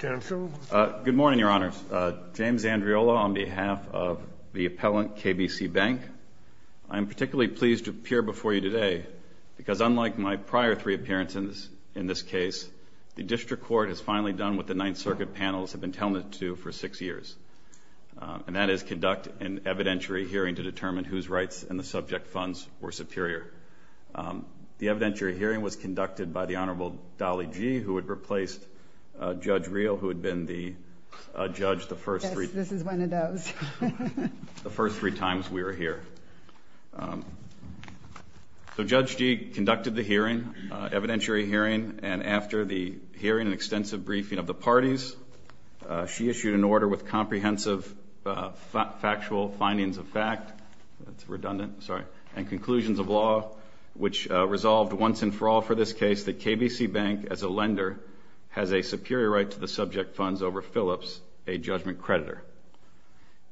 Good morning, Your Honors. James Andriola on behalf of the appellant, KBC Bank. I am particularly pleased to appear before you today because unlike my prior three appearances in this case, the District Court has finally done what the Ninth Circuit panels have been doing, which is to conduct an evidentiary hearing to determine whose rights and the subject funds were superior. The evidentiary hearing was conducted by the Honorable Dolly Gee, who had replaced Judge Riehl, who had been the judge the first three times we were here. So Judge Gee conducted the hearing, evidentiary hearing, and after the hearing and extensive briefing of the parties, she issued an order with comprehensive factual findings of fact and conclusions of law, which resolved once and for all for this case that KBC Bank, as a lender, has a superior right to the subject funds over Philips, a judgment creditor.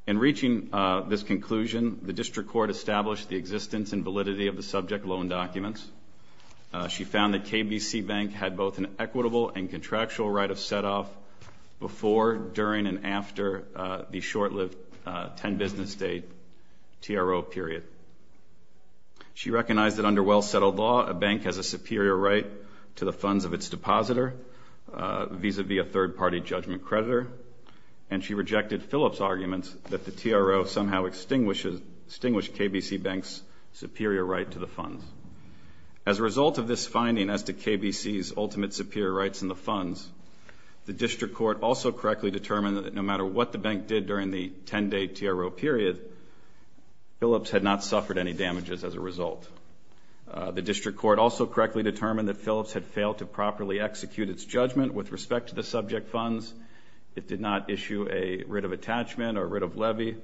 In reaching this conclusion, the District Court established the existence and validity of the subject loan documents. She found that KBC Bank had both an equitable and contractual right of set-off before, during, and after the short-lived 10-business-date TRO period. She recognized that under well-settled law, a bank has a superior right to the funds of its depositor vis-à-vis a third-party judgment creditor, and she rejected Philips' arguments that the TRO somehow extinguished KBC Bank's superior right to the funds. As a result of this finding as to KBC's ultimate superior rights in the funds, the District Court also correctly determined that no matter what the bank did during the 10-day TRO period, Philips had not suffered any damages as a result. The District Court also correctly determined that Philips had failed to properly execute its judgment with respect to the subject funds. It did not issue a writ of attachment or writ of levy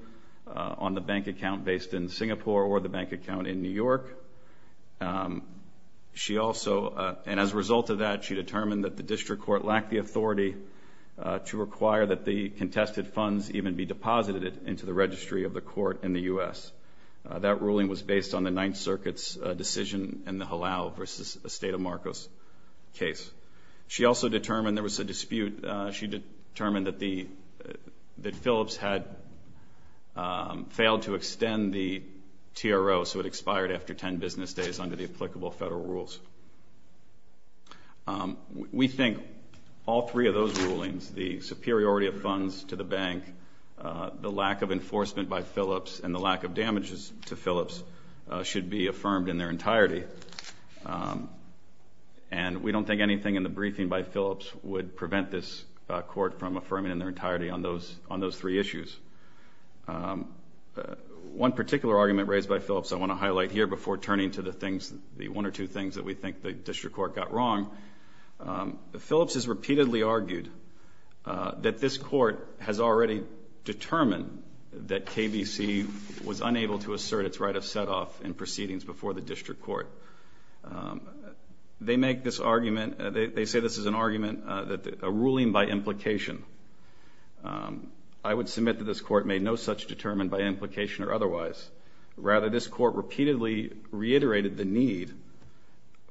on the bank account based in Singapore or the bank account in New York. She also, and as a result of that, she determined that the District Court lacked the authority to require that the contested funds even be deposited into the registry of the court in the U.S. That ruling was based on the Ninth Circuit's decision in the Halal v. Estate of Marcos case. She also determined, there was a dispute, she determined that Philips had failed to extend the TRO so it expired after 10 business days under the applicable federal rules. We think all three of those rulings, the superiority of funds to the bank, the lack of enforcement by Philips, and the lack of damages to Philips, should be affirmed in their entirety. And we don't think anything in the briefing by Philips would prevent this court from affirming in their entirety on those three issues. One particular argument raised by Philips I want to highlight here before turning to the things, the one or two things that we think the District Court got wrong. Philips has repeatedly argued that this court has already determined that KBC was unable to assert its right of set-off in proceedings before the District Court. They make this argument, they say this is an argument, a ruling by implication. I would submit that this court made no such determination by implication or otherwise. Rather this court repeatedly reiterated the need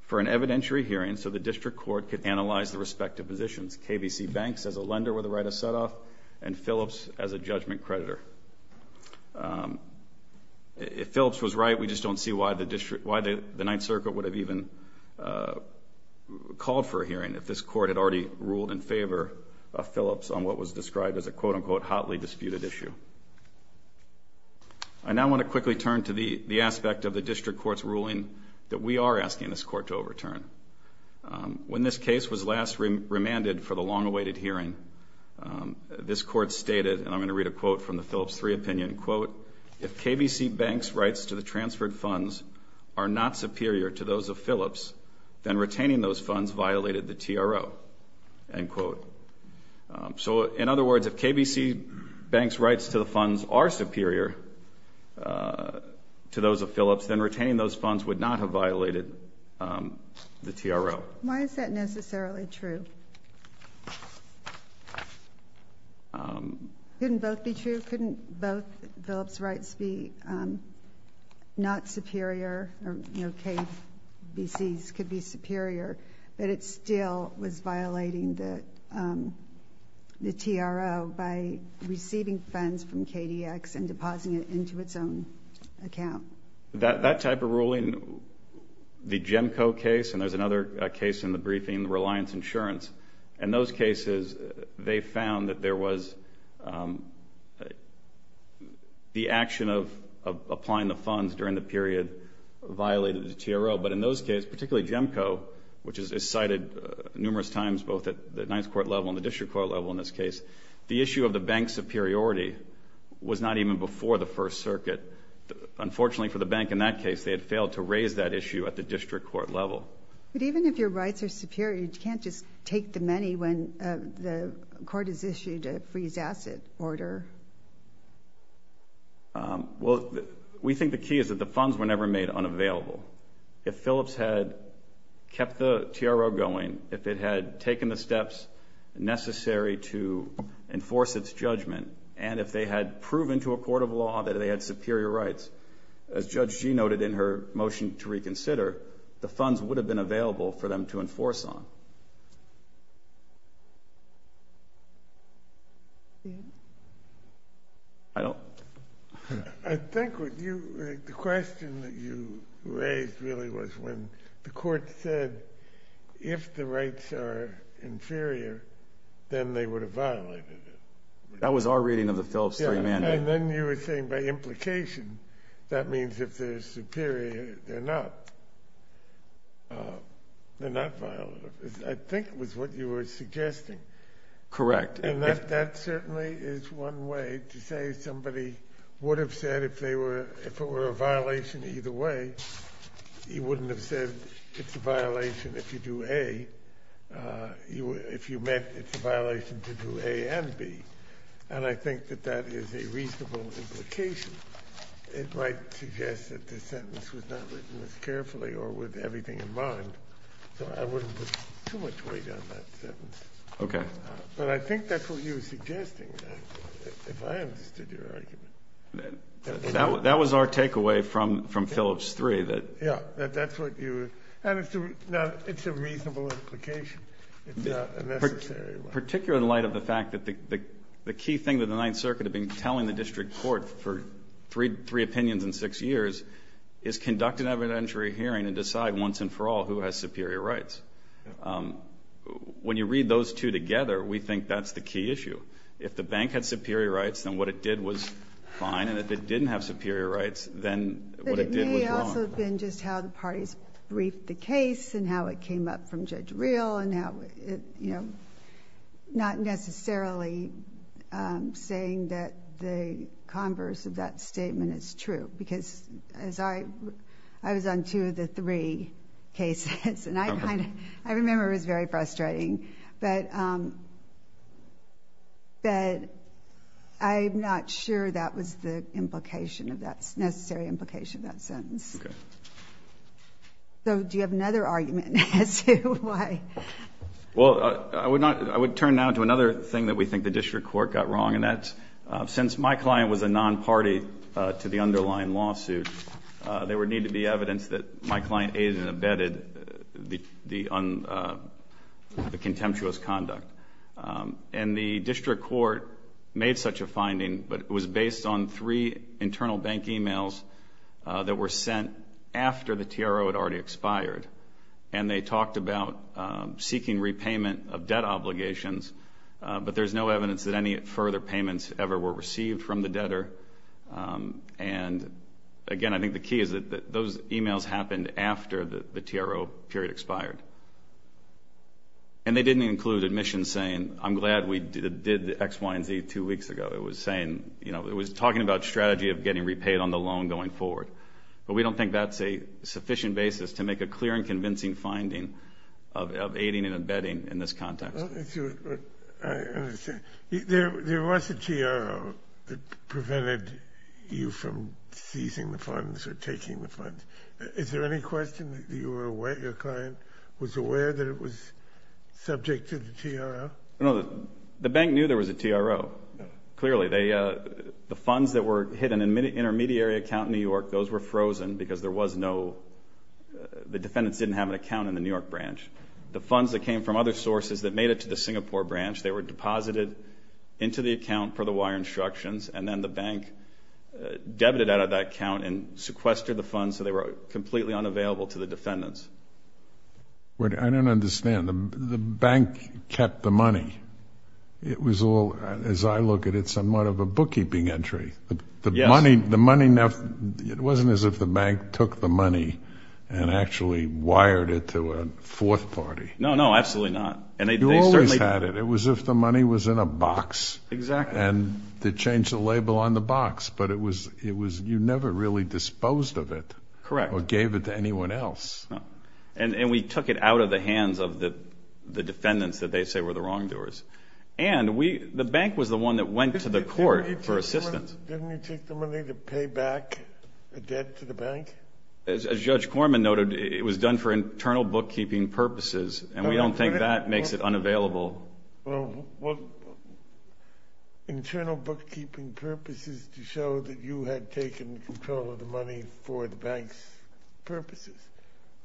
for an evidentiary hearing so the District Court could analyze the respective positions, KBC Banks as a lender with a right of set-off and Philips as a judgment creditor. If Philips was right, we just don't see why the District, why the Ninth Circuit would have even called for a hearing if this court had already ruled in favor of Philips on what was described as a quote-unquote hotly disputed issue. I now want to quickly turn to the aspect of the District Court's ruling that we are asking this court to overturn. When this case was last remanded for the long-awaited hearing, this court stated, and I'm going to read a quote from the Philips 3 opinion, quote, if KBC Banks' rights to the transferred funds are not superior to those of Philips, then retaining those funds violated the TRO, end quote. So in other words, if KBC Banks' rights to the funds are superior to those of Philips, then retaining those funds would not have violated the TRO. Why is that necessarily true? Couldn't both be true? Couldn't both Philips' rights be not superior, or KBC's could be superior, but it still was violating the TRO by receiving funds from KDX and depositing it into its own account? That type of ruling, the GEMCO case, and there's another case in the briefing, Reliance Insurance, in those cases they found that there was the action of applying the funds during the period violated the TRO. But in those cases, particularly GEMCO, which is cited numerous times both at the Ninth Court level and the District Court level in this case, the issue of the bank's superiority was not even before the First Circuit. Unfortunately for the bank in that case, they had failed to raise that issue at the District Court level. But even if your rights are superior, you can't just take the money when the court has issued a freeze asset order. Well, we think the key is that the funds were never made unavailable. If Philips had kept the TRO going, if it had taken the steps necessary to enforce its judgment and if they had proven to a court of law that they had superior rights, as Judge Gee noted in her motion to reconsider, the funds would have been available for them to enforce on. I think the question that you raised really was when the court said, if the rights are inferior, then they would have violated it. That was our reading of the Philips Three Mandate. And then you were saying by implication, that means if they're superior, they're not. They're not violated. I think it was what you were suggesting. Correct. And that certainly is one way to say somebody would have said if they were, if it were a violation either way, he wouldn't have said it's a violation if you do A. If you met, it's a violation to do A and B. And I think that that is a reasonable implication. It might suggest that the sentence was not written as carefully or with everything in mind, so I wouldn't put too much weight on that sentence. Okay. But I think that's what you were suggesting, if I understood your argument. That was our takeaway from Philips Three. Yeah, that's what you, and it's a reasonable implication. It's not a necessary one. Particularly in light of the fact that the key thing that the Ninth Circuit had been telling the district court for three opinions in six years is conduct an evidentiary hearing and decide once and for all who has superior rights. When you read those two together, we think that's the key issue. If the bank had superior rights, then what it did was fine. And if it didn't have superior rights, then what it did was wrong. But it may also have been just how the parties briefed the case and how it came up from the judge real and not necessarily saying that the converse of that statement is true. Because I was on two of the three cases, and I remember it was very frustrating. But I'm not sure that was the necessary implication of that sentence. Okay. So do you have another argument as to why? Well, I would turn now to another thing that we think the district court got wrong, and that's since my client was a non-party to the underlying lawsuit, there would need to be evidence that my client aided and abetted the contemptuous conduct. And the district court made such a finding, but it was based on three internal bank e-mails that were sent after the TRO had already expired. And they talked about seeking repayment of debt obligations, but there's no evidence that any further payments ever were received from the debtor. And, again, I think the key is that those e-mails happened after the TRO period expired. And they didn't include admissions saying, I'm glad we did the X, Y, and Z two weeks ago. It was talking about strategy of getting repaid on the loan going forward. But we don't think that's a sufficient basis to make a clear and convincing finding of aiding and abetting in this context. I understand. There was a TRO that prevented you from seizing the funds or taking the funds. Is there any question that your client was aware that it was subject to the TRO? No, the bank knew there was a TRO, clearly. The funds that were hidden in an intermediary account in New York, those were frozen because there was no ‑‑ the defendants didn't have an account in the New York branch. The funds that came from other sources that made it to the Singapore branch, they were deposited into the account per the wire instructions, and then the bank debited out of that account and sequestered the funds so they were completely unavailable to the defendants. I don't understand. The bank kept the money. It was all, as I look at it, somewhat of a bookkeeping entry. Yes. The money, it wasn't as if the bank took the money and actually wired it to a fourth party. No, no, absolutely not. You always had it. It was as if the money was in a box. Exactly. And they changed the label on the box. But you never really disposed of it. Correct. Or gave it to anyone else. No. And we took it out of the hands of the defendants that they say were the wrongdoers. And the bank was the one that went to the court for assistance. Didn't you take the money to pay back the debt to the bank? As Judge Corman noted, it was done for internal bookkeeping purposes, and we don't think that makes it unavailable. Well, internal bookkeeping purposes to show that you had taken control of the money for the bank's purposes,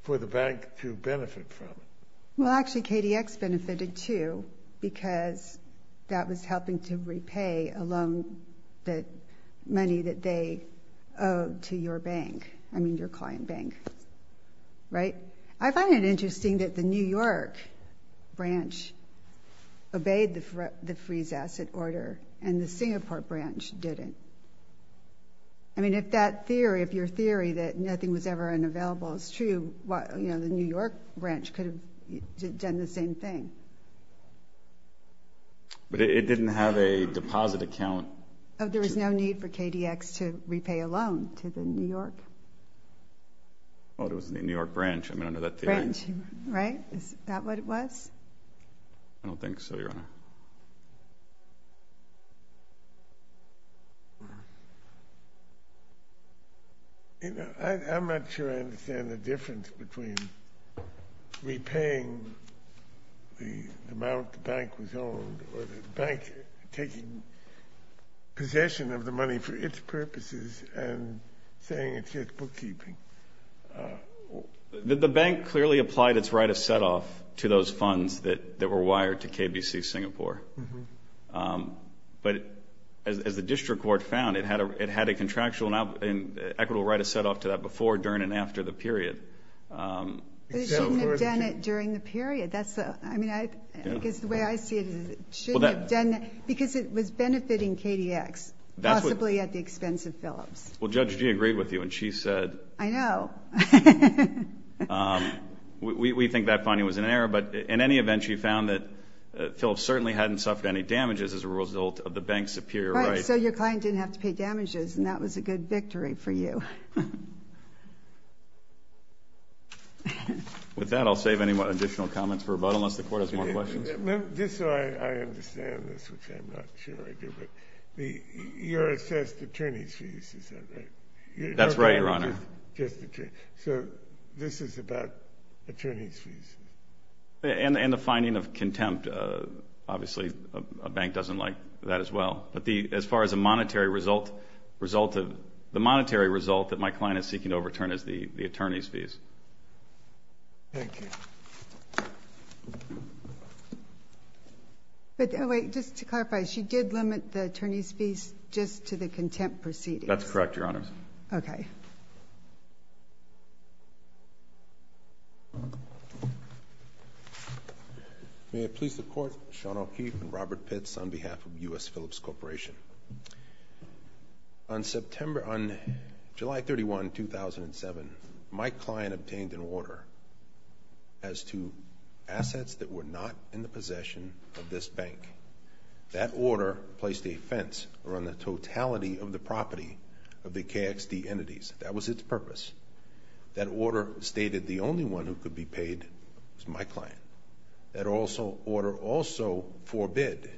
for the bank to benefit from it. Well, actually, KDX benefited too because that was helping to repay a loan, the money that they owed to your bank, I mean your client bank. Right? I find it interesting that the New York branch obeyed the freeze asset order and the Singapore branch didn't. I mean, if that theory, if your theory that nothing was ever unavailable is true, the New York branch could have done the same thing. But it didn't have a deposit account. There was no need for KDX to repay a loan to the New York. Well, it was the New York branch under that theory. Branch, right? Is that what it was? I don't think so, Your Honor. I'm not sure I understand the difference between repaying the amount the bank was owed or the bank taking possession of the money for its purposes and saying it's just bookkeeping. The bank clearly applied its right of set-off to those funds that were wired to KBC Singapore. But as the district court found, it had a contractual and equitable right of set-off to that before, during, and after the period. But it shouldn't have done it during the period. I mean, I guess the way I see it is it shouldn't have done that because it was benefiting KDX, possibly at the expense of Phillips. Well, Judge G agreed with you, and she said. I know. We think that finding was in error, but in any event, she found that Phillips certainly hadn't suffered any damages as a result of the bank's superior right. Right, so your client didn't have to pay damages, and that was a good victory for you. With that, I'll save any additional comments for rebuttal unless the Court has more questions. Just so I understand this, which I'm not sure I do, but your assessed attorney's fees, is that right? That's right, Your Honor. So this is about attorney's fees? And the finding of contempt. Obviously, a bank doesn't like that as well. But as far as a monetary result, the monetary result that my client is seeking to overturn is the attorney's fees. Thank you. Just to clarify, she did limit the attorney's fees just to the contempt proceedings? That's correct, Your Honor. Okay. May it please the Court, Sean O'Keefe and Robert Pitts on behalf of U.S. Phillips Corporation. On July 31, 2007, my client obtained an order as to assets that were not in the possession of this bank. That order placed a fence around the totality of the property of the KXD entities. That was its purpose. That order stated the only one who could be paid was my client. That order also forbid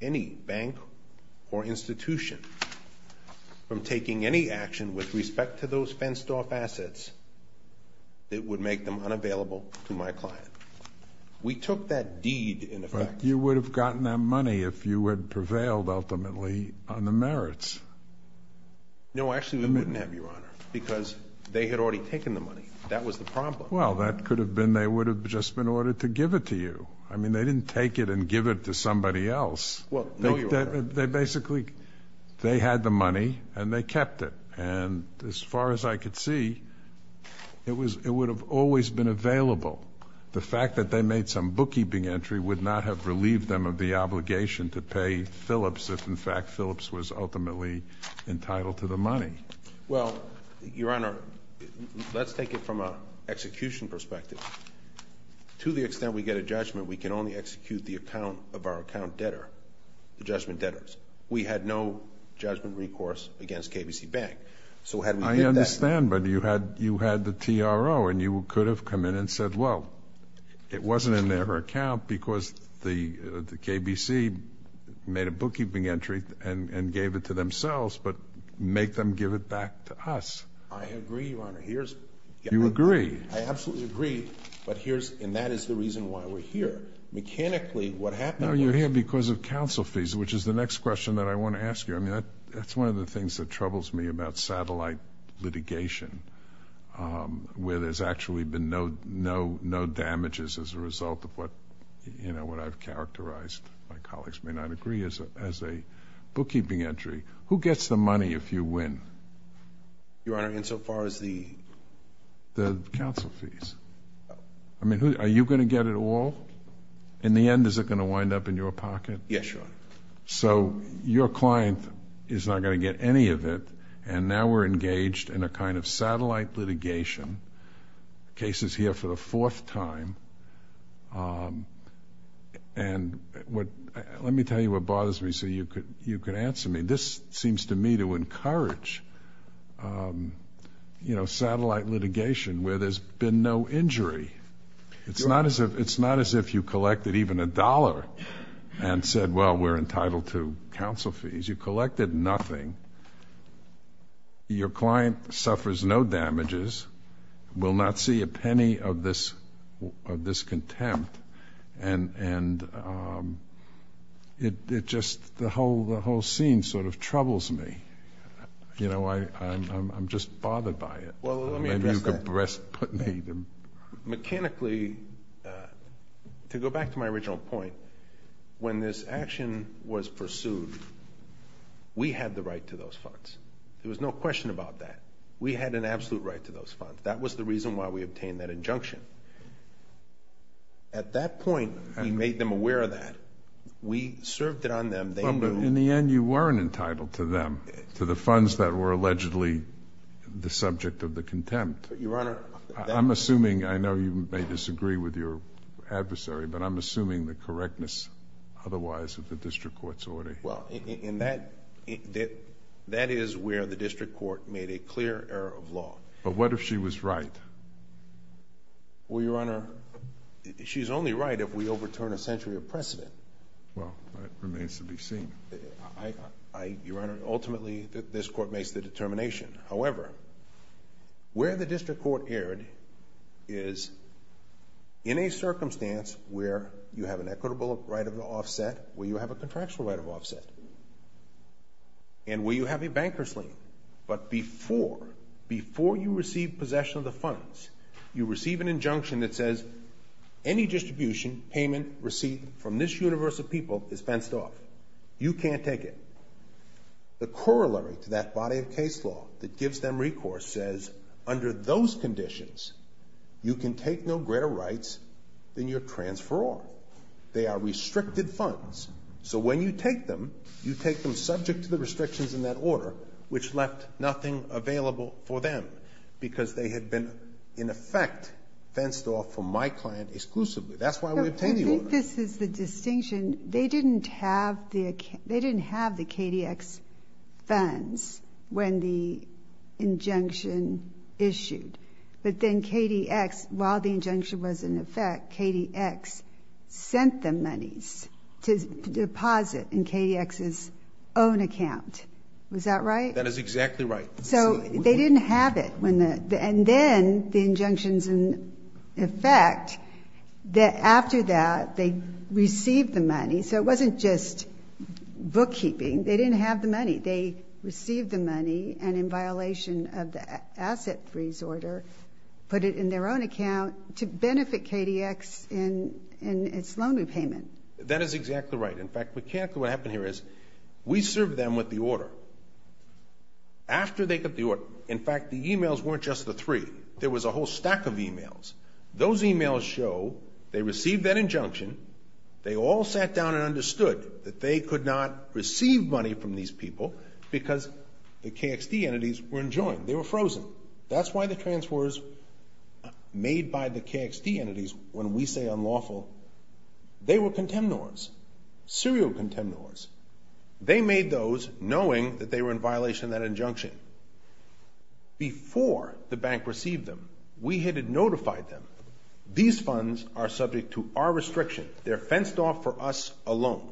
any bank or institution from taking any action with respect to those fenced-off assets that would make them unavailable to my client. We took that deed in effect. But you would have gotten that money if you had prevailed, ultimately, on the merits. No, actually, we wouldn't have, Your Honor, because they had already taken the money. That was the problem. Well, that could have been they would have just been ordered to give it to you. I mean, they didn't take it and give it to somebody else. Well, no, Your Honor. They basically, they had the money and they kept it. And as far as I could see, it would have always been available. The fact that they made some bookkeeping entry would not have relieved them of the obligation to pay Phillips if, in fact, Phillips was ultimately entitled to the money. Well, Your Honor, let's take it from an execution perspective. To the extent we get a judgment, we can only execute the account of our account debtor, the judgment debtors. We had no judgment recourse against KBC Bank. I understand, but you had the TRO, and you could have come in and said, well, it wasn't in their account because the KBC made a bookkeeping entry and gave it to themselves, but make them give it back to us. I agree, Your Honor. You agree? I absolutely agree, and that is the reason why we're here. Mechanically, what happened was... There's a question that I want to ask you. I mean, that's one of the things that troubles me about satellite litigation, where there's actually been no damages as a result of what I've characterized, my colleagues may not agree, as a bookkeeping entry. Who gets the money if you win? Your Honor, insofar as the... The counsel fees. I mean, are you going to get it all? In the end, is it going to wind up in your pocket? Yes, Your Honor. So your client is not going to get any of it, and now we're engaged in a kind of satellite litigation. The case is here for the fourth time. And let me tell you what bothers me so you can answer me. This seems to me to encourage, you know, satellite litigation where there's been no injury. It's not as if you collected even a dollar and said, well, we're entitled to counsel fees. You collected nothing. Your client suffers no damages, will not see a penny of this contempt, and it just, the whole scene sort of troubles me. You know, I'm just bothered by it. Well, let me address that. Mechanically, to go back to my original point, when this action was pursued, we had the right to those funds. There was no question about that. We had an absolute right to those funds. That was the reason why we obtained that injunction. At that point, we made them aware of that. We served it on them. Well, but in the end, you weren't entitled to them, to the funds that were allegedly the subject of the contempt. Your Honor. I'm assuming, I know you may disagree with your adversary, but I'm assuming the correctness otherwise of the district court's order. Well, that is where the district court made a clear error of law. But what if she was right? Well, Your Honor, she's only right if we overturn a century of precedent. Well, that remains to be seen. Your Honor, ultimately, this court makes the determination. However, where the district court erred is in a circumstance where you have an equitable right of offset, where you have a contractual right of offset, and where you have a banker's lien. But before you receive possession of the funds, you receive an injunction that says, any distribution, payment, receipt from this universe of people is fenced off. You can't take it. The corollary to that body of case law that gives them recourse says, under those conditions, you can take no greater rights than your transferor. They are restricted funds. So when you take them, you take them subject to the restrictions in that order, which left nothing available for them, because they had been, in effect, fenced off from my client exclusively. That's why we obtained the order. But I think this is the distinction. They didn't have the KDX funds when the injunction issued. But then KDX, while the injunction was in effect, KDX sent them monies to deposit in KDX's own account. Was that right? That is exactly right. So they didn't have it. And then the injunctions in effect, after that, they received the money. So it wasn't just bookkeeping. They didn't have the money. They received the money and, in violation of the asset freeze order, put it in their own account to benefit KDX in its loan repayment. That is exactly right. In fact, the e-mails weren't just the three. There was a whole stack of e-mails. Those e-mails show they received that injunction. They all sat down and understood that they could not receive money from these people because the KXD entities were enjoined. They were frozen. That's why the transfers made by the KXD entities, when we say unlawful, they were contemnors, serial contemnors. They made those knowing that they were in violation of that injunction. Before the bank received them, we had notified them, these funds are subject to our restriction. They're fenced off for us alone.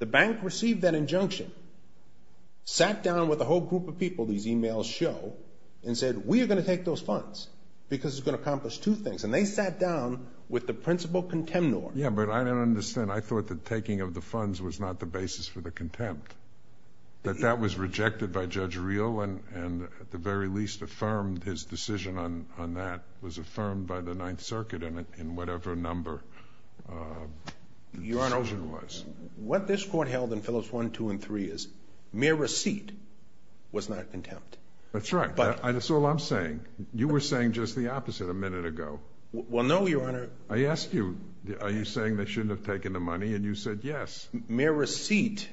The bank received that injunction, sat down with a whole group of people, these e-mails show, and said, we are going to take those funds because it's going to accomplish two things. And they sat down with the principal contemnor. Yeah, but I don't understand. I thought that taking of the funds was not the basis for the contempt, that that was rejected by Judge Reel and at the very least affirmed his decision on that was affirmed by the Ninth Circuit in whatever number the decision was. Your Honor, what this Court held in Phillips 1, 2, and 3 is mere receipt was not contempt. That's right. That's all I'm saying. You were saying just the opposite a minute ago. Well, no, Your Honor. I asked you, are you saying they shouldn't have taken the money, and you said yes. Mere receipt,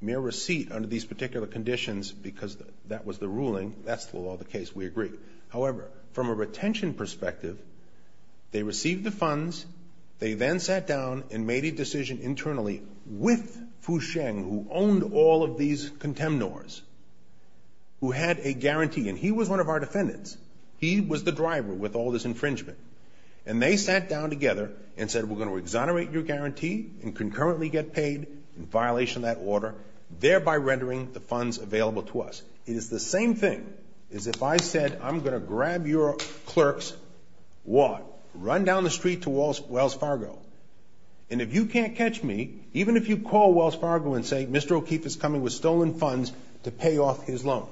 mere receipt under these particular conditions, because that was the ruling, that's the law of the case, we agree. However, from a retention perspective, they received the funds, they then sat down and made a decision internally with Fu Sheng, who owned all of these contemnors, who had a guarantee. And he was one of our defendants. He was the driver with all this infringement. And they sat down together and said we're going to exonerate your guarantee and concurrently get paid in violation of that order, thereby rendering the funds available to us. It is the same thing as if I said I'm going to grab your clerk's what? Run down the street to Wells Fargo, and if you can't catch me, even if you call Wells Fargo and say Mr. O'Keefe is coming with stolen funds to pay off his loan,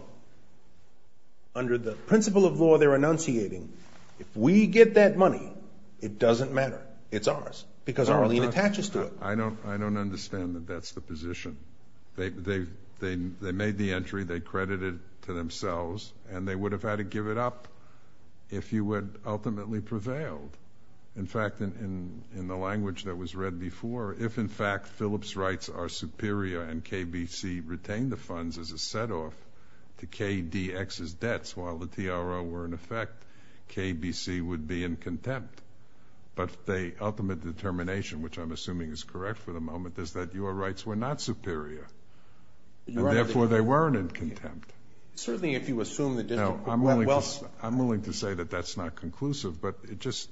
under the principle of law they're enunciating, if we get that money, it doesn't matter, it's ours, because our lien attaches to it. I don't understand that that's the position. They made the entry, they credited it to themselves, and they would have had to give it up if you had ultimately prevailed. In fact, in the language that was read before, if in fact Phillips' rights are superior and KBC retained the funds as a set-off to KDX's debts while the TRO were in effect, KBC would be in contempt. But the ultimate determination, which I'm assuming is correct for the moment, is that your rights were not superior, and therefore they weren't in contempt. Certainly if you assume that Wells ---- No, I'm willing to say that that's not conclusive, but it just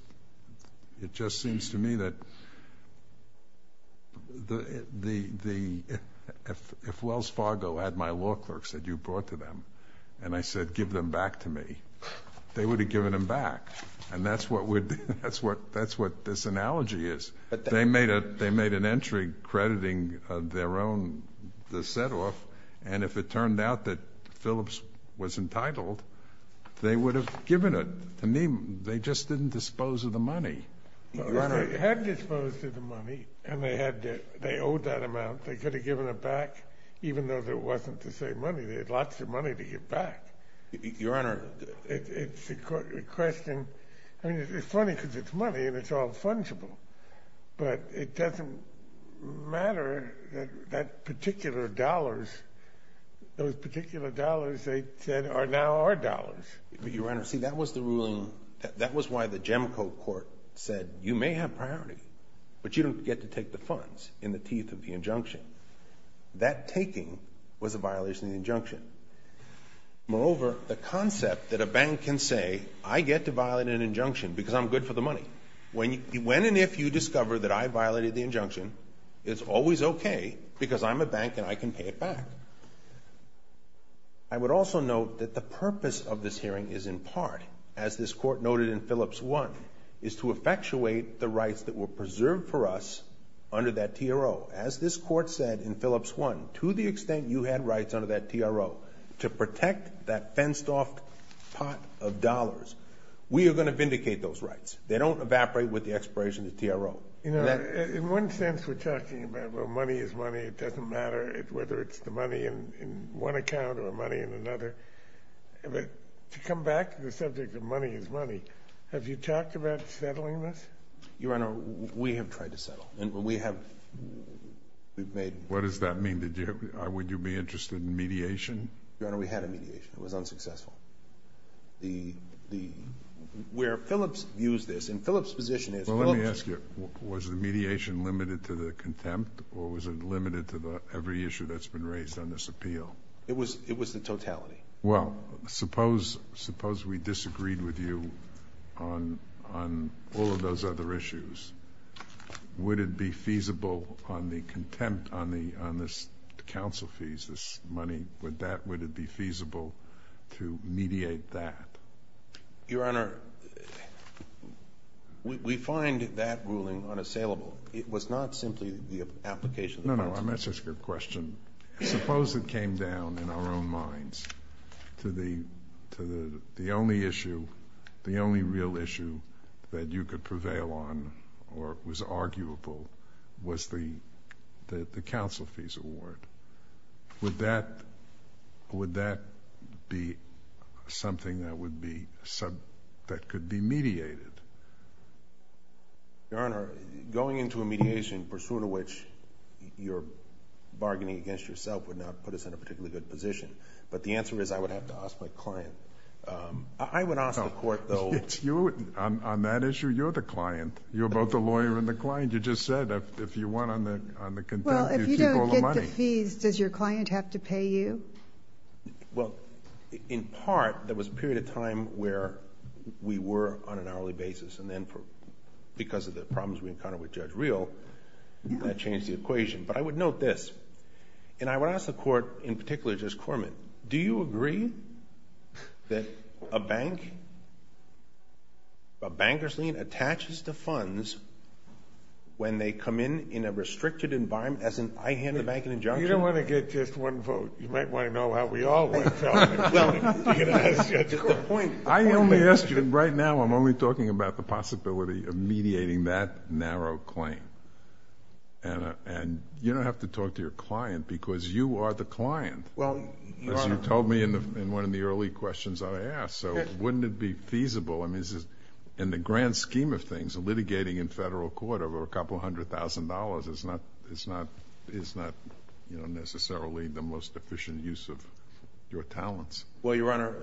seems to me that if Wells Fargo had my law clerks that you brought to them and I said give them back to me, they would have given them back, and that's what this analogy is. They made an entry crediting their own set-off, and if it turned out that Phillips was entitled, they would have given it. To me, they just didn't dispose of the money. They had disposed of the money, and they owed that amount. They could have given it back even though there wasn't the same money. They had lots of money to give back. Your Honor. It's a question. I mean, it's funny because it's money, and it's all fungible, but it doesn't matter that that particular dollars, those particular dollars they said are now our dollars. Your Honor, see, that was the ruling ---- that was why the Gemco court said you may have priority, but you don't get to take the funds in the teeth of the injunction. That taking was a violation of the injunction. Moreover, the concept that a bank can say I get to violate an injunction because I'm good for the money, when and if you discover that I violated the injunction, it's always okay because I'm a bank and I can pay it back. I would also note that the purpose of this hearing is in part, as this court noted in Phillips 1, is to effectuate the rights that were preserved for us under that TRO. As this court said in Phillips 1, to the extent you had rights under that TRO to protect that fenced-off pot of dollars, we are going to vindicate those rights. They don't evaporate with the expiration of the TRO. Your Honor, in one sense we're talking about, well, money is money. It doesn't matter whether it's the money in one account or money in another. But to come back to the subject of money is money, have you talked about settling this? Your Honor, we have tried to settle. And we have made— What does that mean? Would you be interested in mediation? Your Honor, we had a mediation. It was unsuccessful. The—where Phillips used this, in Phillips's position is— Well, let me ask you. Was the mediation limited to the contempt, or was it limited to every issue that's been raised on this appeal? It was the totality. Well, suppose we disagreed with you on all of those other issues. Would it be feasible on the contempt on this counsel fees, this money, would that—would it be feasible to mediate that? Your Honor, we find that ruling unassailable. It was not simply the application of the contempt. No, no, I'm asking a question. Suppose it came down in our own minds to the only issue, the only real issue that you could prevail on or was arguable was the counsel fees award. Would that be something that would be—that could be mediated? Your Honor, going into a mediation, pursuant to which you're bargaining against yourself, would not put us in a particularly good position. But the answer is I would have to ask my client. I would ask the court, though— On that issue, you're the client. You're both the lawyer and the client. You just said if you want on the contempt, you keep all the money. On the fees, does your client have to pay you? Well, in part, there was a period of time where we were on an hourly basis, and then because of the problems we encountered with Judge Reel, that changed the equation. But I would note this, and I would ask the court, in particular, Judge Corman, do you agree that a bank, a banker's lien attaches to funds when they come in in a restricted environment, as in I hand the bank an injunction? You don't want to get just one vote. You might want to know how we all went about it. I only ask you—right now I'm only talking about the possibility of mediating that narrow claim. And you don't have to talk to your client because you are the client, as you told me in one of the early questions that I asked. So wouldn't it be feasible? I mean, in the grand scheme of things, litigating in federal court over a couple hundred thousand dollars is not necessarily the most efficient use of your talents. Well, Your Honor,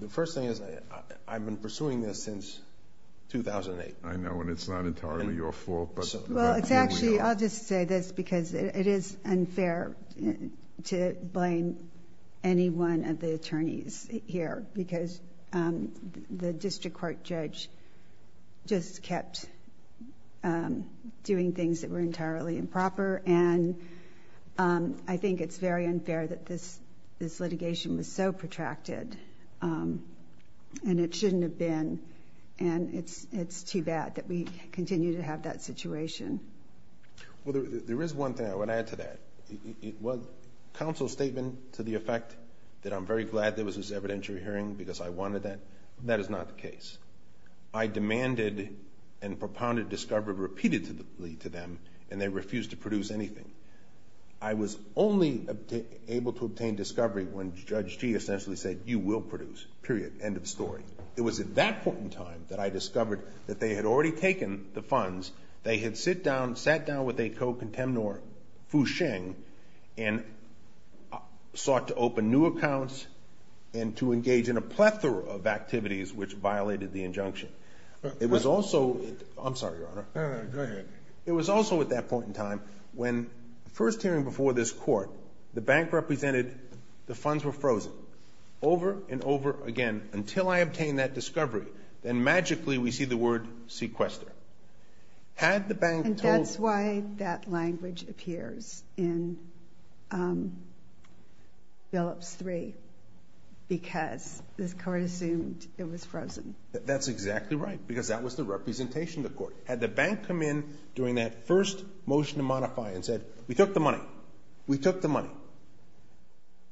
the first thing is I've been pursuing this since 2008. I know, and it's not entirely your fault. Well, it's actually—I'll just say this because it is unfair to blame anyone of the attorneys here because the district court judge just kept doing things that were entirely improper. And I think it's very unfair that this litigation was so protracted, and it shouldn't have been. And it's too bad that we continue to have that situation. Well, there is one thing I want to add to that. Counsel's statement to the effect that I'm very glad there was this evidentiary hearing because I wanted that, that is not the case. I demanded and propounded discovery repeatedly to them, and they refused to produce anything. I was only able to obtain discovery when Judge Gee essentially said, you will produce, period, end of story. It was at that point in time that I discovered that they had already taken the funds. They had sat down with a co-contemnor, Fu Sheng, and sought to open new accounts and to engage in a plethora of activities which violated the injunction. It was also—I'm sorry, Your Honor. No, no, go ahead. It was also at that point in time when, first hearing before this court, the bank represented the funds were frozen over and over again until I obtained that discovery. Then magically we see the word sequester. Had the bank told— And that's why that language appears in Phillips 3 because this court assumed it was frozen. That's exactly right because that was the representation of the court. Had the bank come in during that first motion to modify and said, we took the money, we took the money,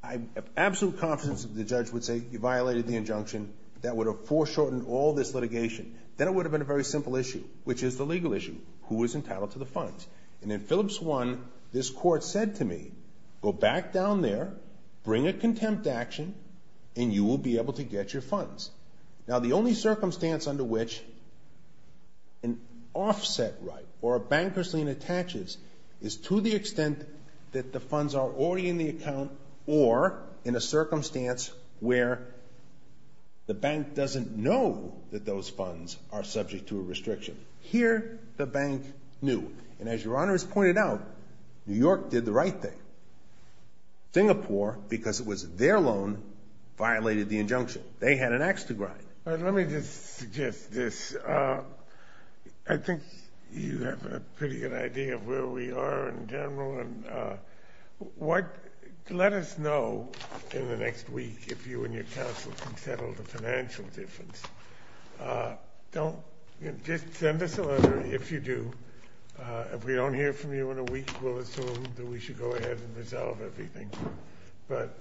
I have absolute confidence that the judge would say, you violated the injunction. That would have foreshortened all this litigation. Then it would have been a very simple issue, which is the legal issue. Who is entitled to the funds? And in Phillips 1, this court said to me, go back down there, bring a contempt action, and you will be able to get your funds. Now, the only circumstance under which an offset right or a banker's lien attaches is to the extent that the funds are already in the account or in a circumstance where the bank doesn't know that those funds are subject to a restriction. Here, the bank knew. And as Your Honor has pointed out, New York did the right thing. Singapore, because it was their loan, violated the injunction. They had an ax to grind. Let me just suggest this. I think you have a pretty good idea of where we are in general. Let us know in the next week if you and your counsel can settle the financial difference. Just send us a letter if you do. If we don't hear from you in a week, we'll assume that we should go ahead and resolve everything. But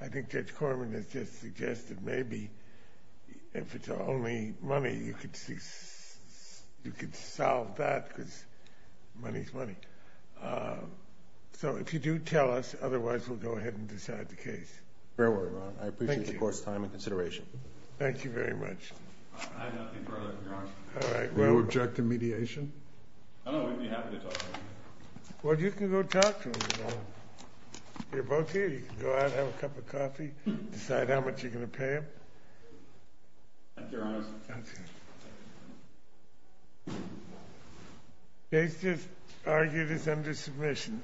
I think Judge Corman has just suggested maybe if it's only money, you could solve that because money is money. So if you do tell us, otherwise we'll go ahead and decide the case. Fair word, Your Honor. I appreciate the court's time and consideration. Thank you very much. I have nothing further for Your Honor. Do you object to mediation? I don't know. We'd be happy to talk to him. Well, you can go talk to him. You're both here. You can go out, have a cup of coffee, decide how much you're going to pay him. Thank you, Your Honor. Thank you. The case is argued as under submission.